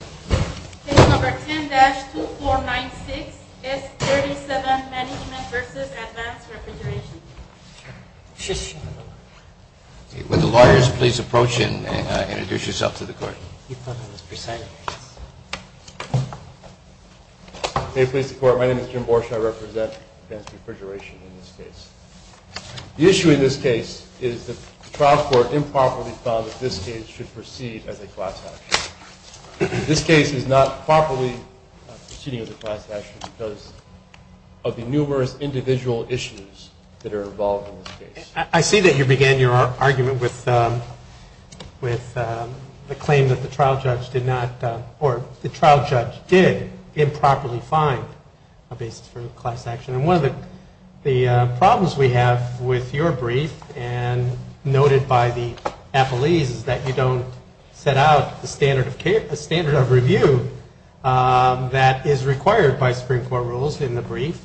Case No. 10-2496, S37 Management v. Advance Refrigeration Co. May it please the Court, my name is Jim Borsche. I represent Advance Refrigeration in this case. The issue in this case is that the trial court improperly found that this case should proceed as a class action. This case is not properly proceeding as a class action because of the numerous individual issues that are involved in this case. I see that you began your argument with the claim that the trial judge did improperly find a basis for class action. One of the problems we have with your brief and noted by the appellees is that you don't set out the standard of review that is required by Supreme Court rules in the brief,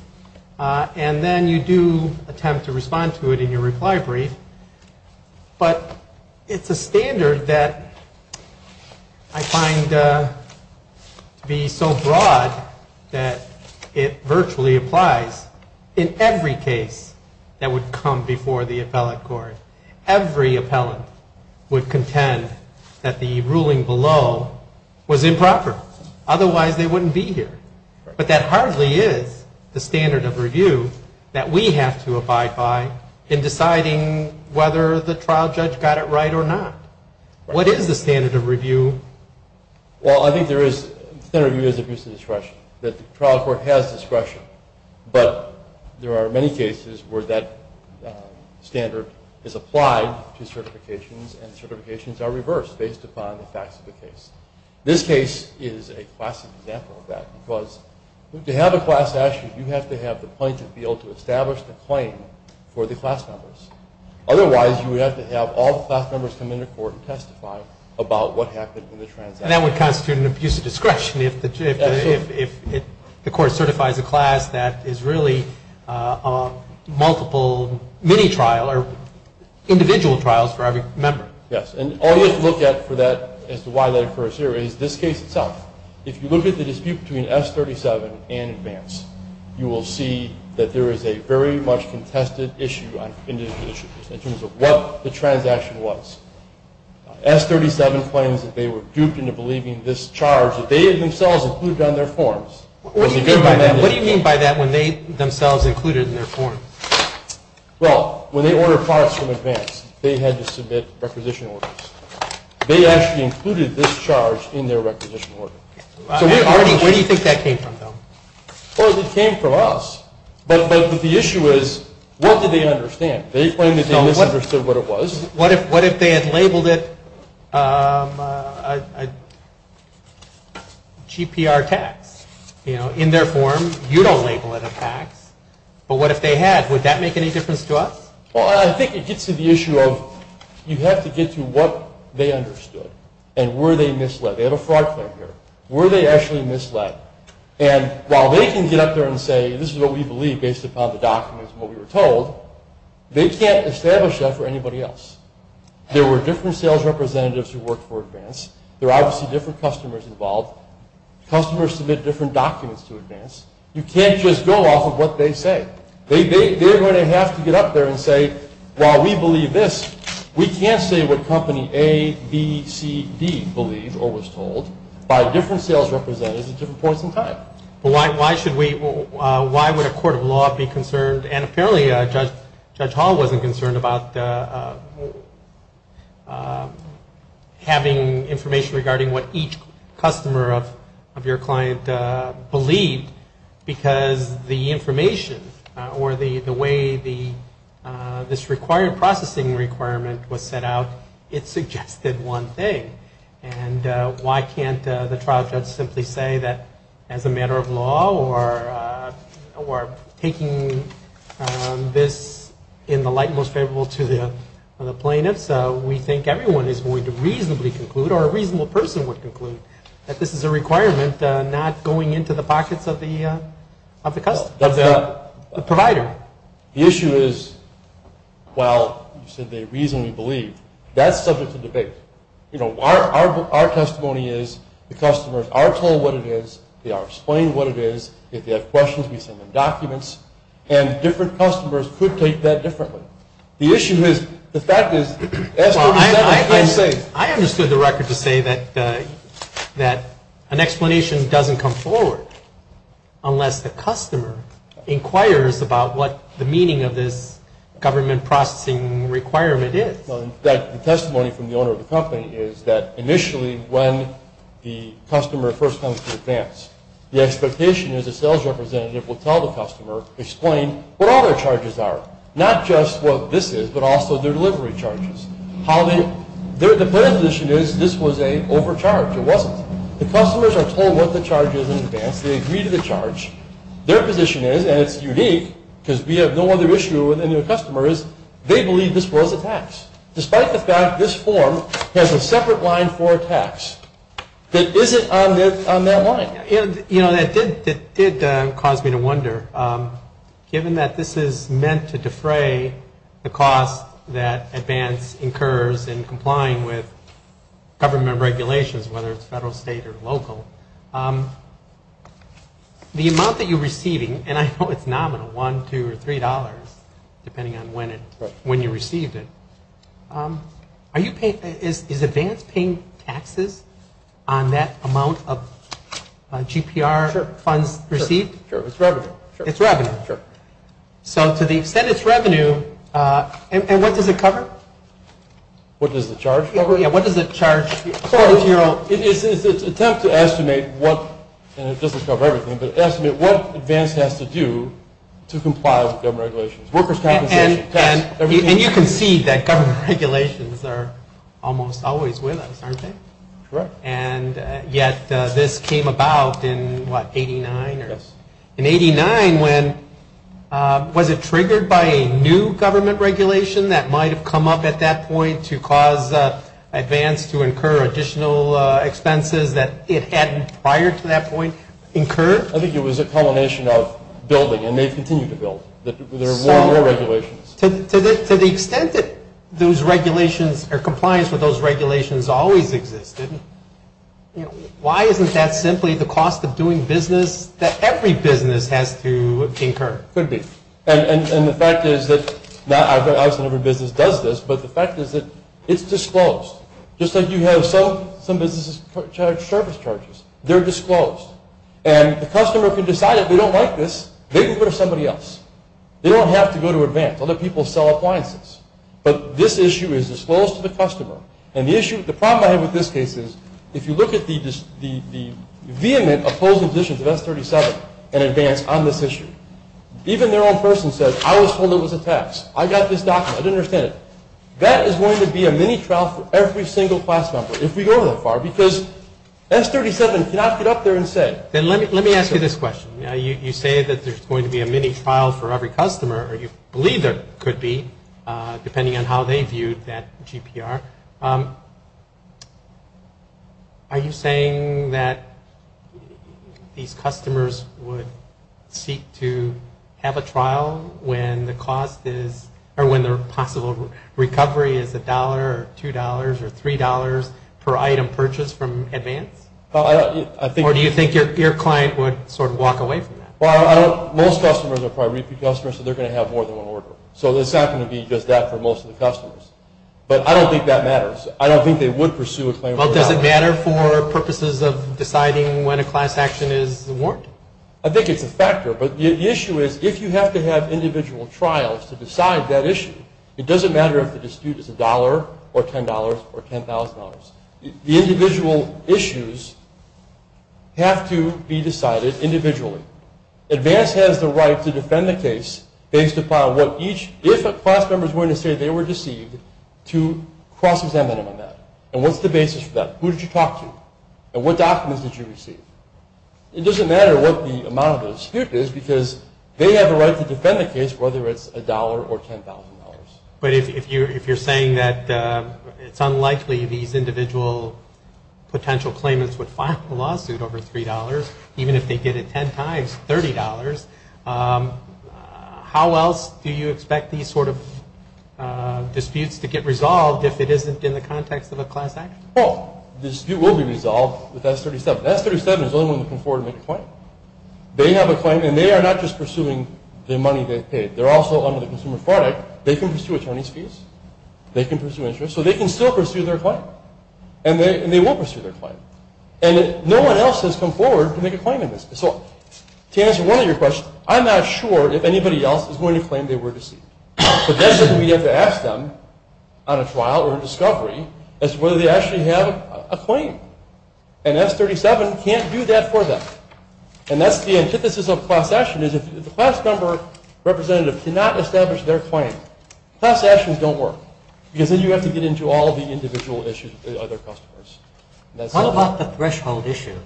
and then you do attempt to respond to it in your reply brief. But it's a standard that I find to be so broad that it virtually applies in every case that would come before the appellate court. Every appellant would contend that the ruling below was improper, otherwise they wouldn't be here. But that hardly is the standard of review that we have to abide by in deciding whether the trial judge got it right or not. What is the standard of review? Well, I think the standard of review is abuse of discretion, that the trial court has discretion. But there are many cases where that standard is applied to certifications and certifications are reversed based upon the facts of the case. This case is a classic example of that, because to have a class action, you have to have the plaintiff be able to establish the claim for the class members. Otherwise, you would have to have all the class members come into court and testify about what happened in the transaction. And that would constitute an abuse of discretion if the court certifies a class that is really a multiple mini-trial or individual trials for every member. Yes, and all you have to look at for that, as to why that occurs here, is this case itself. If you look at the dispute between S37 and Advance, you will see that there is a very much contested issue in terms of what the transaction was. S37 claims that they were duped into believing this charge that they themselves included on their forms. What do you mean by that, when they themselves included it in their form? Well, when they ordered products from Advance, they had to submit requisition orders. They actually included this charge in their requisition order. Where do you think that came from, though? Well, it came from us. But the issue is, what did they understand? They claimed that they misunderstood what it was. What if they had labeled it a GPR tax? In their form, you don't label it a tax. But what if they had? Would that make any difference to us? Well, I think it gets to the issue of, you have to get to what they understood, and were they misled? They have a fraud claim here. Were they actually misled? And while they can get up there and say, this is what we believe based upon the documents and what we were told, they can't establish that for anybody else. There were different sales representatives who worked for Advance. There are obviously different customers involved. Customers submit different documents to Advance. You can't just go off of what they say. They are going to have to get up there and say, while we believe this, we can't say what company A, B, C, D believed or was told by different sales representatives at different points in time. Why should we, why would a court of law be concerned, and apparently Judge Hall wasn't concerned about having information regarding what each customer of your client believed, because the information or the way this required processing requirement was set out, it suggested one thing. And why can't the trial judge simply say that, as a matter of law, or taking this in the light most favorable to the plaintiffs, we think everyone is going to reasonably conclude, or a reasonable person would conclude, that this is a requirement not going into the pockets of the provider. The issue is, well, you said they reasonably believe. That's subject to debate. Our testimony is the customers are told what it is. They are explained what it is. If they have questions, we send them documents. And different customers could take that differently. The issue is, the fact is... I understood the record to say that an explanation doesn't come forward unless the customer inquires about what the meaning of this government processing requirement is. The testimony from the owner of the company is that initially when the customer first comes to advance, the expectation is a sales representative will tell the customer, explain what all their charges are. Not just what this is, but also their delivery charges. Their position is this was an overcharge. It wasn't. The customers are told what the charge is in advance. They agree to the charge. Their position is, and it's unique, because we have no other issue with any of the customers, they believe this was a tax, despite the fact this form has a separate line for a tax that isn't on that line. That did cause me to wonder, given that this is meant to defray the cost that advance incurs in complying with government regulations, whether it's federal, state, or local, the amount that you're receiving, and I know it's nominal, $1, $2, or $3, depending on when you received it, is advance paying taxes on that amount of GPR funds received? Sure. It's revenue. It's revenue. Sure. So to the extent it's revenue, and what does it cover? What does the charge cover? Yeah, what does it charge? It's an attempt to estimate what, and it doesn't cover everything, but estimate what advance has to do to comply with government regulations. Workers' compensation, tax, everything. And you can see that government regulations are almost always with us, aren't they? Correct. And yet this came about in, what, 89? Yes. In 89, when, was it triggered by a new government regulation that might have come up at that point to cause advance to incur additional expenses that it had prior to that point incurred? I think it was a combination of building, and they've continued to build. There are more and more regulations. To the extent that those regulations, or compliance with those regulations always existed, why isn't that simply the cost of doing business that every business has to incur? Could be. And the fact is that, obviously not every business does this, but the fact is that it's disclosed. Just like you have some businesses charge service charges. They're disclosed. And the customer, if they decide that they don't like this, they can go to somebody else. They don't have to go to Advance. Other people sell appliances. But this issue is disclosed to the customer. And the issue, the problem I have with this case is, if you look at the vehement opposing positions of S37 and Advance on this issue, even their own person says, I was told it was a tax. I got this document. I didn't understand it. That is going to be a mini trial for every single class member, if we go that far, because S37 cannot get up there and say. Then let me ask you this question. You say that there's going to be a mini trial for every customer, or you believe there could be, depending on how they viewed that GPR. Are you saying that these customers would seek to have a trial when the cost is, or when the possible recovery is $1 or $2 or $3 per item purchased from Advance? Or do you think your client would sort of walk away from that? Well, most customers are probably repeat customers, so they're going to have more than one order. So it's not going to be just that for most of the customers. But I don't think that matters. I don't think they would pursue a claim. Well, does it matter for purposes of deciding when a class action is warranted? I think it's a factor. But the issue is, if you have to have individual trials to decide that issue, it doesn't matter if the dispute is $1 or $10 or $10,000. The individual issues have to be decided individually. Advance has the right to defend the case based upon what each, if a class member is willing to say they were deceived, to cross-examine them on that. And what's the basis for that? Who did you talk to? And what documents did you receive? It doesn't matter what the amount of the dispute is, because they have a right to defend the case, whether it's $1 or $10,000. But if you're saying that it's unlikely these individual potential claimants would file a lawsuit over $3, even if they did it 10 times, $30, how else do you expect these sort of disputes to get resolved if it isn't in the context of a class action? Well, the dispute will be resolved with S37. S37 is the only one looking forward to make a claim. They have a claim, and they are not just pursuing the money they paid. They're also under the consumer product. They can pursue attorney's fees. They can pursue interest. So they can still pursue their claim, and they will pursue their claim. And no one else has come forward to make a claim in this. So to answer one of your questions, I'm not sure if anybody else is going to claim they were deceived. So that's something we have to ask them on a trial or a discovery, as to whether they actually have a claim. And S37 can't do that for them. And that's the antithesis of class action, is if the class number representative cannot establish their claim, class actions don't work, because then you have to get into all the individual issues with other customers. What about the threshold issue,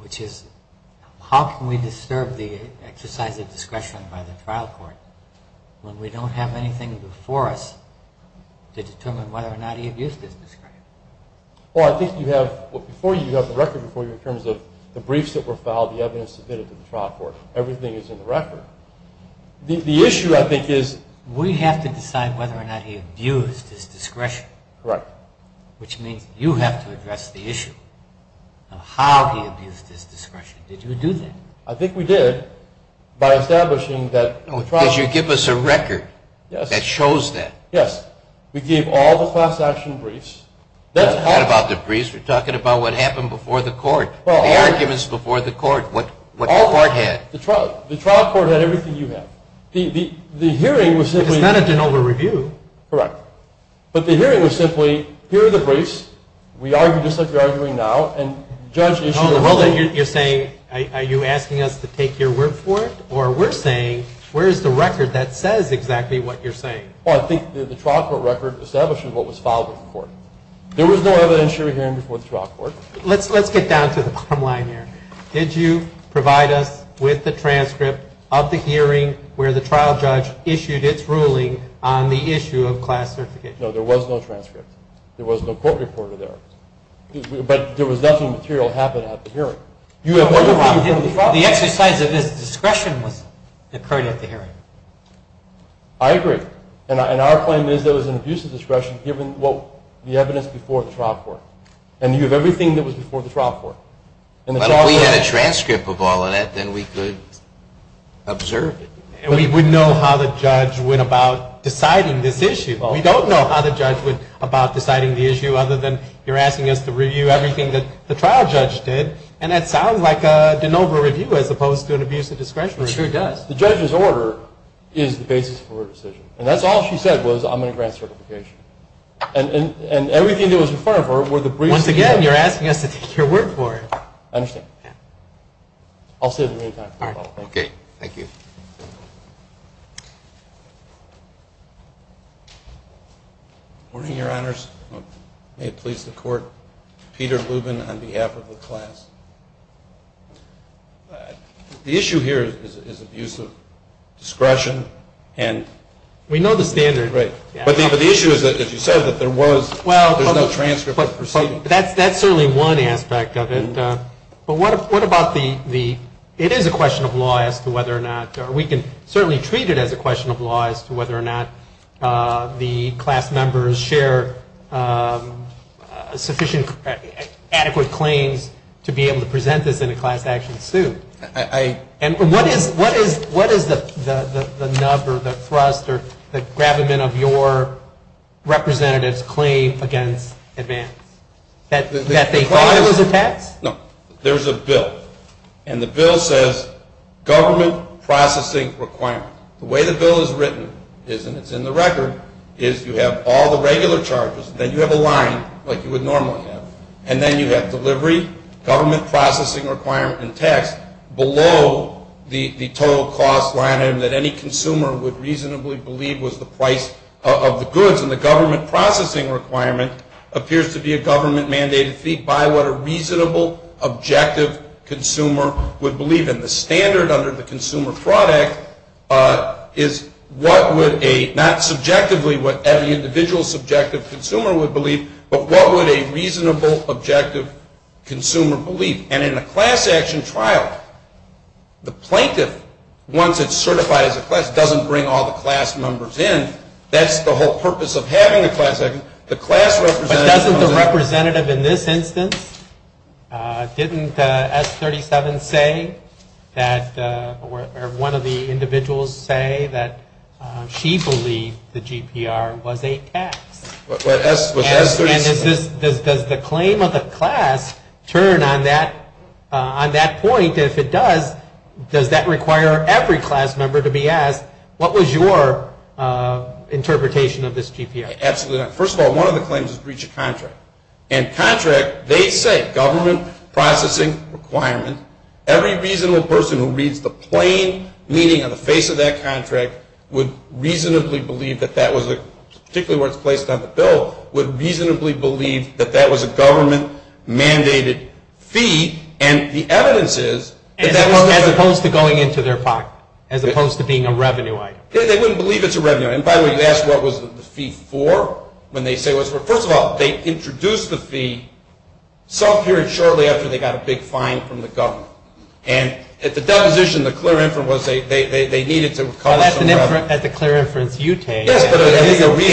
which is how can we disturb the exercise of discretion by the trial court when we don't have anything before us to determine whether or not he abused his discretion? Well, I think you have before you, you have the record before you in terms of the briefs that were filed, the evidence submitted to the trial court. Everything is in the record. The issue, I think, is we have to decide whether or not he abused his discretion. Correct. Which means you have to address the issue of how he abused his discretion. Did you do that? I think we did by establishing that the trial court… Because you give us a record that shows that. Yes. We gave all the class action briefs. That's how… Not about the briefs. We're talking about what happened before the court, the arguments before the court, what the court had. The trial court had everything you had. The hearing was simply… It's not a de novo review. Correct. But the hearing was simply, here are the briefs. We argue just like we're arguing now, and judge issued a ruling… So you're saying, are you asking us to take your word for it? Or we're saying, where's the record that says exactly what you're saying? Well, I think the trial court record establishes what was filed with the court. There was no evidentiary hearing before the trial court. Let's get down to the bottom line here. Did you provide us with the transcript of the hearing where the trial judge issued its ruling on the issue of class certification? No, there was no transcript. There was no court reporter there. But there was nothing material that happened at the hearing. The exercise of his discretion occurred at the hearing. I agree. And our claim is there was an abuse of discretion given the evidence before the trial court. And you have everything that was before the trial court. But if we had a transcript of all of that, then we could observe it. We wouldn't know how the judge went about deciding this issue. We don't know how the judge went about deciding the issue other than you're asking us to review everything that the trial judge did. And that sounds like a de novo review as opposed to an abuse of discretion review. It sure does. The judge's order is the basis for her decision. And that's all she said was I'm going to grant certification. And everything that was in front of her were the briefs. Once again, you're asking us to take your word for it. I understand. I'll say it in the meantime. Okay. Thank you. Good morning, Your Honors. May it please the Court. Peter Lubin on behalf of the class. The issue here is abuse of discretion. We know the standard. Right. But the issue is, as you said, that there was no transcript. That's certainly one aspect of it. But what about the ‑‑ it is a question of law as to whether or not, or we can certainly treat it as a question of law, as to whether or not the class members share sufficient adequate claims to be able to present this in a class action suit. And what is the nub or the thrust or the gravamen of your representative's claim against advance? That they filed those attacks? No. There's a bill. And the bill says government processing requirement. The way the bill is written is, and it's in the record, is you have all the regular charges. Then you have a line like you would normally have. And then you have delivery, government processing requirement, and tax below the total cost line item that any consumer would reasonably believe was the price of the goods. And the government processing requirement appears to be a government mandated fee by what a reasonable, objective consumer would believe. And the standard under the Consumer Fraud Act is what would a, not subjectively what every individual subjective consumer would believe, but what would a reasonable, objective consumer believe? And in a class action trial, the plaintiff, once it's certified as a class, doesn't bring all the class members in. That's the whole purpose of having the class representative. Doesn't the representative in this instance, didn't S-37 say that, or one of the individuals say that she believed the GPR was a tax? And does the claim of the class turn on that point? If it does, does that require every class member to be asked, what was your interpretation of this GPR? Absolutely not. First of all, one of the claims is breach of contract. And contract, they say, government processing requirement, every reasonable person who reads the plain meaning on the face of that contract would reasonably believe that that was a, particularly where it's placed on the bill, would reasonably believe that that was a government mandated fee. And the evidence is that that wasn't. As opposed to going into their pocket, as opposed to being a revenue item. They wouldn't believe it's a revenue item. And by the way, you asked what was the fee for? First of all, they introduced the fee some period shortly after they got a big fine from the government. And at the deposition, the clear inference was they needed to cause some revenue. Well, that's a clear inference you take. It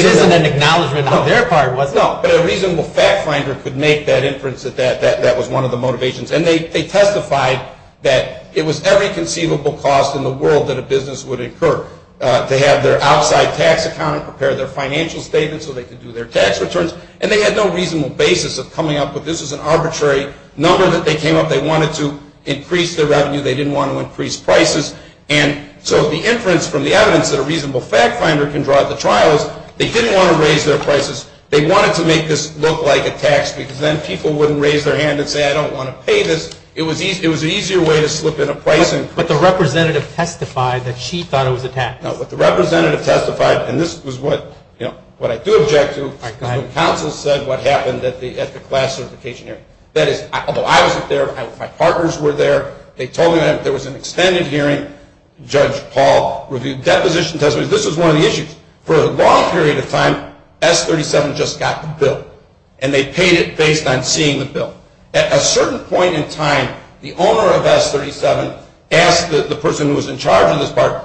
isn't an acknowledgment on their part, was it? No, but a reasonable fact finder could make that inference that that was one of the motivations. And they testified that it was every conceivable cost in the world that a business would incur to have their outside tax accountant prepare their financial statements so they could do their tax returns. And they had no reasonable basis of coming up with this as an arbitrary number that they came up. They wanted to increase their revenue. They didn't want to increase prices. And so the inference from the evidence that a reasonable fact finder can draw at the trial is they didn't want to raise their prices. They wanted to make this look like a tax because then people wouldn't raise their hand and say, I don't want to pay this. It was an easier way to slip in a price. But the representative testified that she thought it was a tax. No, but the representative testified, and this was what I do object to, is when counsel said what happened at the class certification hearing. That is, although I wasn't there, my partners were there. They told me there was an extended hearing. Judge Paul reviewed the deposition testimony. This was one of the issues. For a long period of time, S37 just got the bill, and they paid it based on seeing the bill. At a certain point in time, the owner of S37 asked the person who was in charge of this part,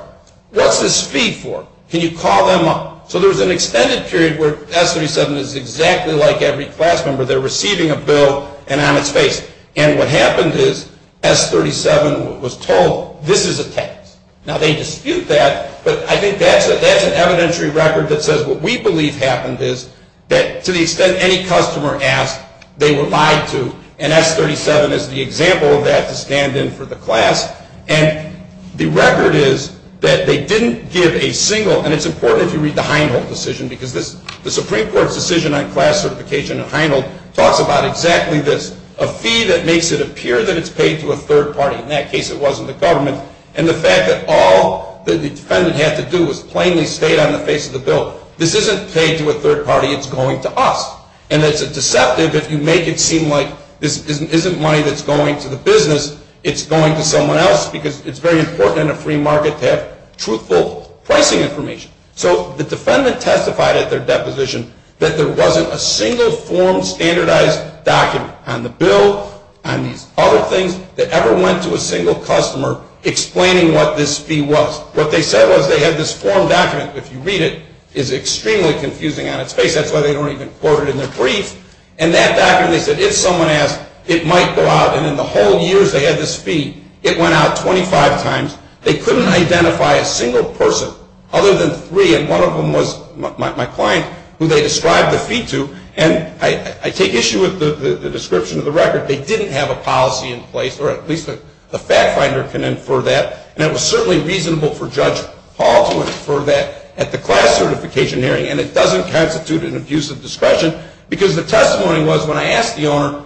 what's this fee for? Can you call them up? So there was an extended period where S37 is exactly like every class member. They're receiving a bill and on its face. And what happened is S37 was told, this is a tax. Now, they dispute that, but I think that's an evidentiary record that says what we believe happened is that to the extent any customer asked, they were lied to, and S37 is the example of that to stand in for the class. And the record is that they didn't give a single, and it's important if you read the Heinold decision, because the Supreme Court's decision on class certification at Heinold talks about exactly this, a fee that makes it appear that it's paid to a third party. In that case, it wasn't the government. And the fact that all the defendant had to do was plainly state on the face of the bill, this isn't paid to a third party, it's going to us. And it's a deceptive if you make it seem like this isn't money that's going to the business, it's going to someone else because it's very important in a free market to have truthful pricing information. So the defendant testified at their deposition that there wasn't a single form standardized document on the bill and these other things that ever went to a single customer explaining what this fee was. What they said was they had this form document. If you read it, it's extremely confusing on its face. That's why they don't even quote it in their brief. And that document, they said, if someone asked, it might go out. And in the whole years they had this fee, it went out 25 times. They couldn't identify a single person other than three, and one of them was my client, who they described the fee to. And I take issue with the description of the record. They didn't have a policy in place, or at least the fact finder can infer that, and it was certainly reasonable for Judge Hall to infer that at the class certification hearing, and it doesn't constitute an abuse of discretion because the testimony was when I asked the owner,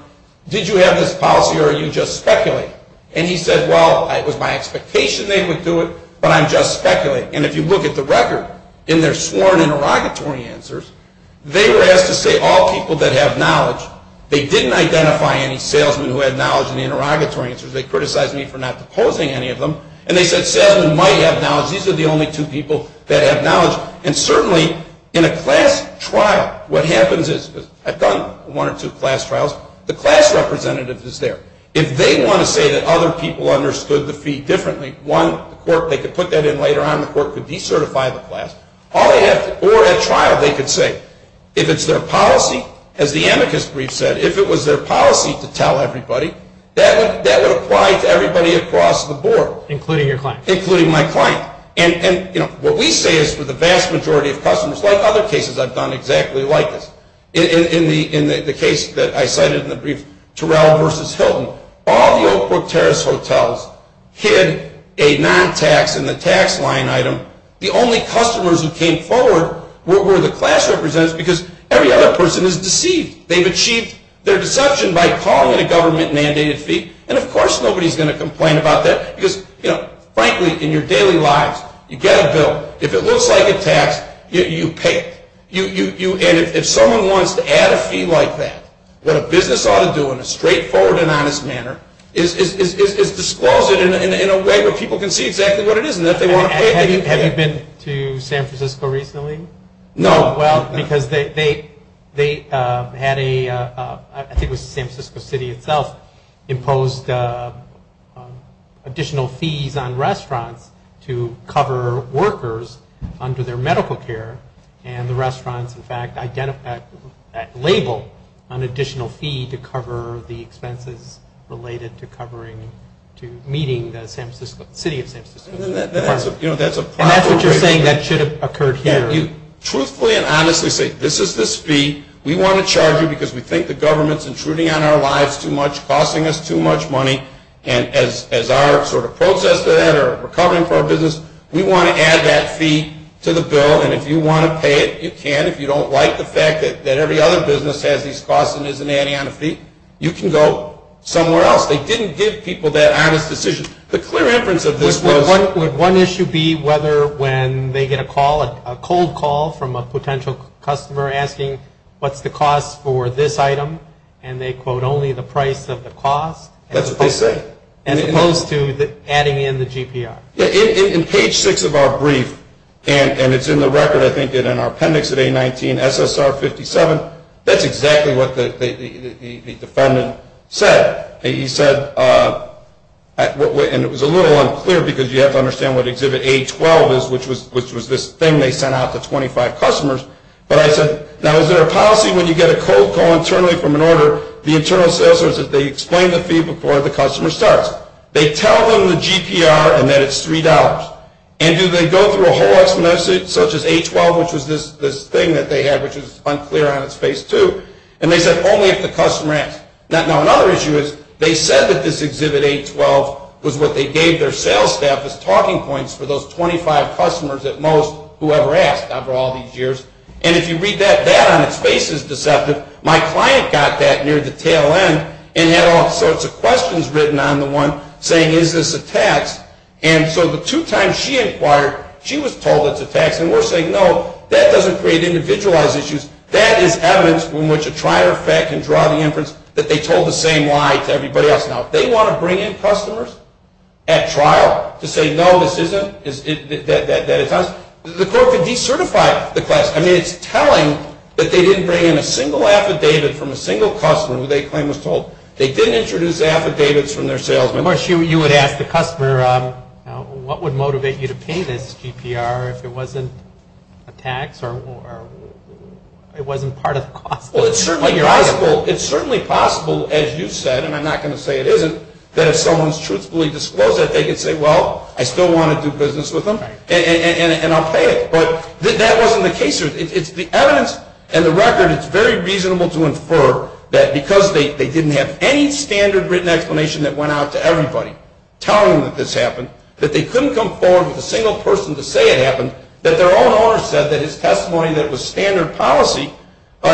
did you have this policy or are you just speculating? And he said, well, it was my expectation they would do it, but I'm just speculating. And if you look at the record in their sworn interrogatory answers, they were asked to say all people that have knowledge. They didn't identify any salesmen who had knowledge in the interrogatory answers. They criticized me for not deposing any of them. And they said salesmen might have knowledge. These are the only two people that have knowledge. And certainly in a class trial, what happens is, I've done one or two class trials, the class representative is there. If they want to say that other people understood the fee differently, one, the court, they could put that in later on and the court could decertify the class. Or at trial they could say, if it's their policy, as the amicus brief said, if it was their policy to tell everybody, that would apply to everybody across the board. Including your client. Including my client. And, you know, what we say is for the vast majority of customers, like other cases I've done exactly like this. In the case that I cited in the brief, Terrell versus Hilton, all the Oak Brook Terrace hotels hid a non-tax in the tax line item. The only customers who came forward were the class representatives because every other person is deceived. They've achieved their deception by calling it a government mandated fee. And, of course, nobody is going to complain about that. Because, you know, frankly, in your daily lives, you get a bill, if it looks like a tax, you pay it. And if someone wants to add a fee like that, what a business ought to do in a straightforward and honest manner is disclose it in a way where people can see exactly what it is. And if they want to pay, they can pay. Have you been to San Francisco recently? No. Well, because they had a, I think it was San Francisco City itself, imposed additional fees on restaurants to cover workers under their medical care. And the restaurants, in fact, labeled an additional fee to cover the expenses related to covering, to meeting the city of San Francisco. That's a problem. And that's what you're saying that should have occurred here. Truthfully and honestly say, this is the fee. We want to charge you because we think the government is intruding on our lives too much, costing us too much money. And as our sort of process for that or recovering for our business, we want to add that fee to the bill. And if you want to pay it, you can. If you don't like the fact that every other business has these costs and isn't adding on a fee, you can go somewhere else. They didn't give people that honest decision. The clear inference of this was – A phone call from a potential customer asking, what's the cost for this item? And they quote, only the price of the cost. That's what they say. As opposed to adding in the GPR. In page 6 of our brief, and it's in the record, I think, in our appendix at A19, SSR 57, that's exactly what the defendant said. He said, and it was a little unclear because you have to understand what Exhibit A12 is, which was this thing they sent out to 25 customers. But I said, now, is there a policy when you get a cold call internally from an order, the internal sales person says they explain the fee before the customer starts. They tell them the GPR and that it's $3. And do they go through a whole explanation such as A12, which was this thing that they had, which was unclear on its page 2. And they said only if the customer asked. Now, another issue is they said that this Exhibit A12 was what they gave their sales staff as talking points for those 25 customers at most who ever asked after all these years. And if you read that, that on its face is deceptive. My client got that near the tail end and had all sorts of questions written on the one saying, is this a tax? And so the two times she inquired, she was told it's a tax. And we're saying, no, that doesn't create individualized issues. That is evidence from which a trial effect can draw the inference that they told the same lie to everybody else. Now, if they want to bring in customers at trial to say, no, this isn't, that it's not, the court could decertify the class. I mean, it's telling that they didn't bring in a single affidavit from a single customer who they claim was told. They didn't introduce affidavits from their salesman. Of course, you would ask the customer, what would motivate you to pay this GPR if it wasn't a tax or it wasn't part of the cost? Well, it's certainly possible, as you said, and I'm not going to say it isn't, that if someone's truthfully disclosed it, they could say, well, I still want to do business with them, and I'll pay it. But that wasn't the case. The evidence and the record, it's very reasonable to infer that because they didn't have any standard written explanation that went out to everybody telling them that this happened, that they couldn't come forward with a single person to say it happened, that their own owner said that his testimony that was standard policy,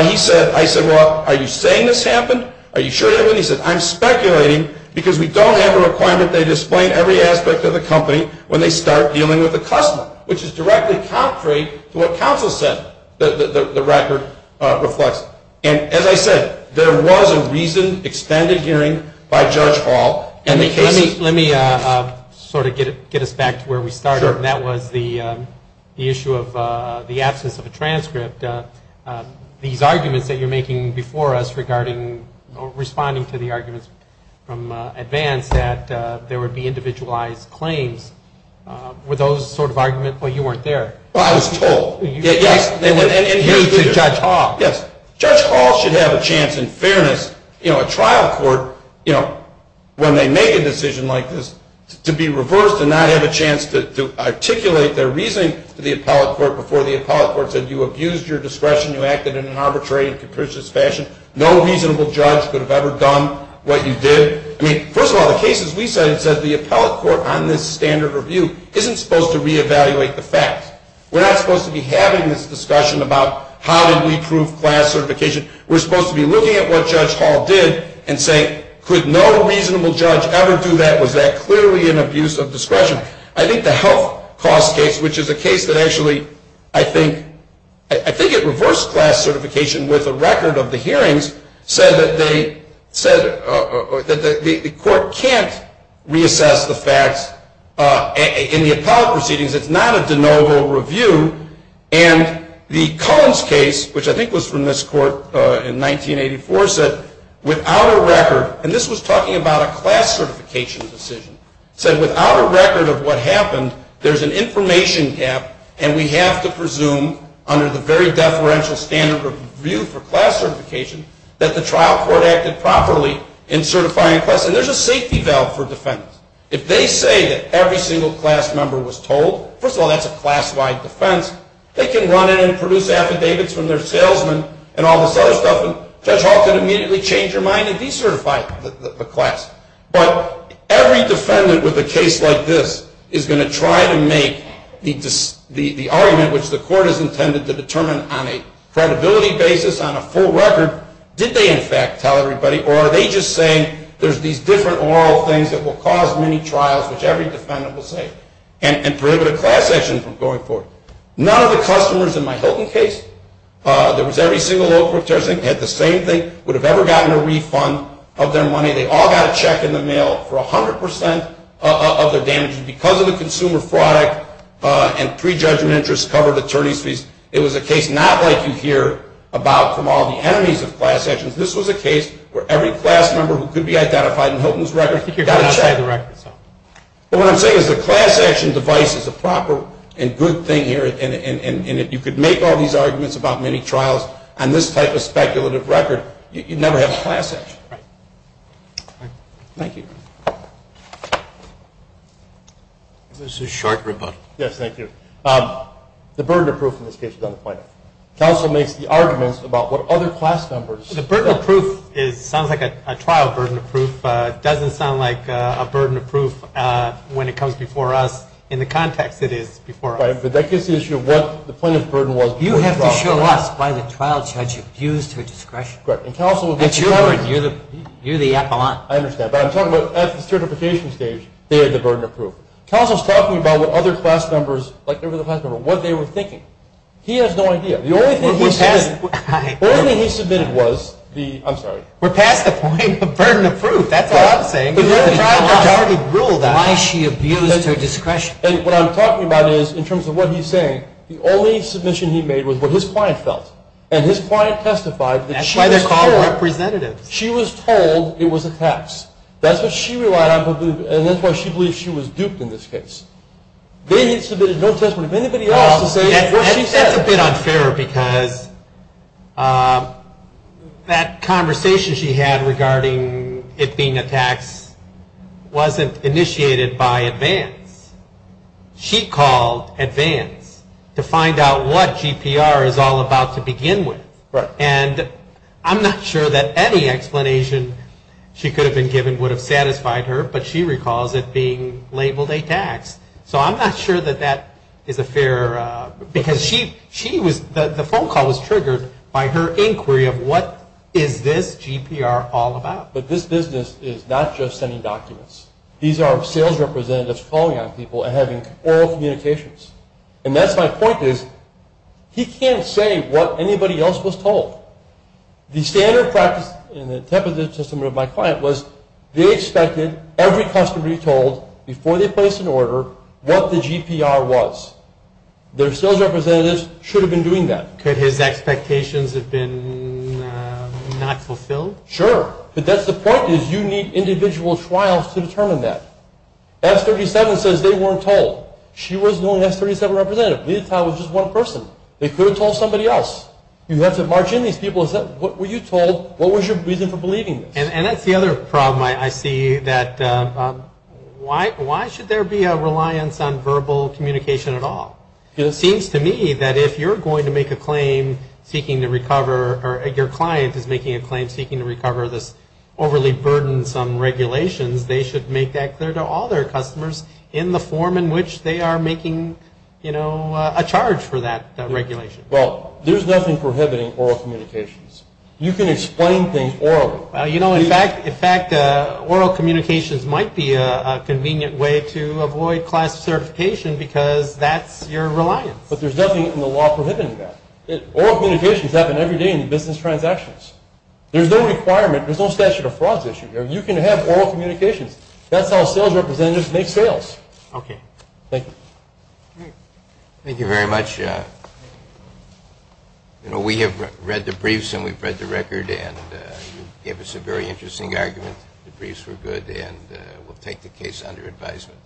he said, I said, well, are you saying this happened? Are you sure that happened? He said, I'm speculating because we don't have a requirement. They explain every aspect of the company when they start dealing with the customer, which is directly contrary to what counsel said the record reflects. And as I said, there was a reasoned extended hearing by Judge Hall. Let me sort of get us back to where we started. That was the issue of the absence of a transcript. These arguments that you're making before us regarding responding to the arguments from advance that there would be individualized claims, were those sort of arguments, well, you weren't there. Well, I was told. Yes. And me too, Judge Hall. Yes. Judge Hall should have a chance in fairness, you know, a trial court, you know, when they make a decision like this, to be reversed and not have a chance to articulate their reasoning to the appellate court before the appellate court said you abused your discretion, you acted in an arbitrary and capricious fashion. No reasonable judge could have ever done what you did. I mean, first of all, the cases we cited said the appellate court on this standard review isn't supposed to reevaluate the facts. We're not supposed to be having this discussion about how did we prove class certification. We're supposed to be looking at what Judge Hall did and say, could no reasonable judge ever do that? Was that clearly an abuse of discretion? I think the health cost case, which is a case that actually, I think it reversed class certification with a record of the hearings, said that the court can't reassess the facts in the appellate proceedings. It's not a de novo review. And the Collins case, which I think was from this court in 1984, said without a record, and this was talking about a class certification decision, said without a record of what happened, there's an information gap and we have to presume under the very deferential standard review for class certification that the trial court acted properly in certifying a class. And there's a safety valve for defendants. If they say that every single class member was told, first of all, that's a classified defense, they can run in and produce affidavits from their salesman and all this other stuff and Judge Hall can immediately change her mind and decertify the class. But every defendant with a case like this is going to try to make the argument, which the court has intended to determine on a credibility basis, on a full record, did they in fact tell everybody or are they just saying there's these different oral things that will cause many trials, which every defendant will say, and prohibit a class action from going forward? None of the customers in my Hilton case, there was every single law court judge, had the same thing, would have ever gotten a refund of their money. They all got a check in the mail for 100 percent of their damages because of the consumer fraud and prejudgment interest covered attorney's fees. It was a case not like you hear about from all the enemies of class actions. This was a case where every class member who could be identified in Hilton's record got a check. What I'm saying is the class action device is a proper and good thing here and if you could make all these arguments about many trials on this type of speculative record, you'd never have class action. Thank you. This is short rebuttal. Yes, thank you. The burden of proof in this case is on the plaintiff. Counsel makes the arguments about what other class members. The burden of proof sounds like a trial burden of proof. It doesn't sound like a burden of proof when it comes before us in the context it is before us. Right, but that gives the issue of what the plaintiff's burden was. You have to show us why the trial judge abused her discretion. Correct, and counsel would make the argument. That's your word. You're the appellant. I understand, but I'm talking about at the certification stage, they had the burden of proof. Counsel is talking about what other class members, like every other class member, what they were thinking. He has no idea. The only thing he submitted was the – I'm sorry. We're past the point of burden of proof. That's what I'm saying. Why she abused her discretion. And what I'm talking about is, in terms of what he's saying, the only submission he made was what his client felt, and his client testified that she was told – That's why they're called representatives. She was told it was a tax. That's what she relied on, and that's why she believes she was duped in this case. Then he submitted no testimony. That's a bit unfair because that conversation she had regarding it being a tax wasn't initiated by advance. She called advance to find out what GPR is all about to begin with, and I'm not sure that any explanation she could have been given would have satisfied her, but she recalls it being labeled a tax. So I'm not sure that that is a fair – because she was – the phone call was triggered by her inquiry of, what is this GPR all about? But this business is not just sending documents. These are sales representatives calling on people and having oral communications, and that's my point is, he can't say what anybody else was told. The standard practice in the temporary system of my client was, they expected every customer to be told before they placed an order what the GPR was. Their sales representatives should have been doing that. Could his expectations have been not fulfilled? Sure, but that's the point is, you need individual trials to determine that. S-37 says they weren't told. She was the only S-37 representative. Lita was just one person. They could have told somebody else. You have to march in these people and say, what were you told? What was your reason for believing this? And that's the other problem I see, that why should there be a reliance on verbal communication at all? It seems to me that if you're going to make a claim seeking to recover, or your client is making a claim seeking to recover this overly burdensome regulations, they should make that clear to all their customers in the form in which they are making, you know, a charge for that regulation. Well, there's nothing prohibiting oral communications. You can explain things orally. You know, in fact, oral communications might be a convenient way to avoid class certification because that's your reliance. But there's nothing in the law prohibiting that. Oral communications happen every day in business transactions. There's no requirement, there's no statute of frauds issue. You can have oral communications. That's how sales representatives make sales. Okay. Thank you. Thank you very much. You know, we have read the briefs and we've read the record, and you gave us a very interesting argument. The briefs were good, and we'll take the case under advisement.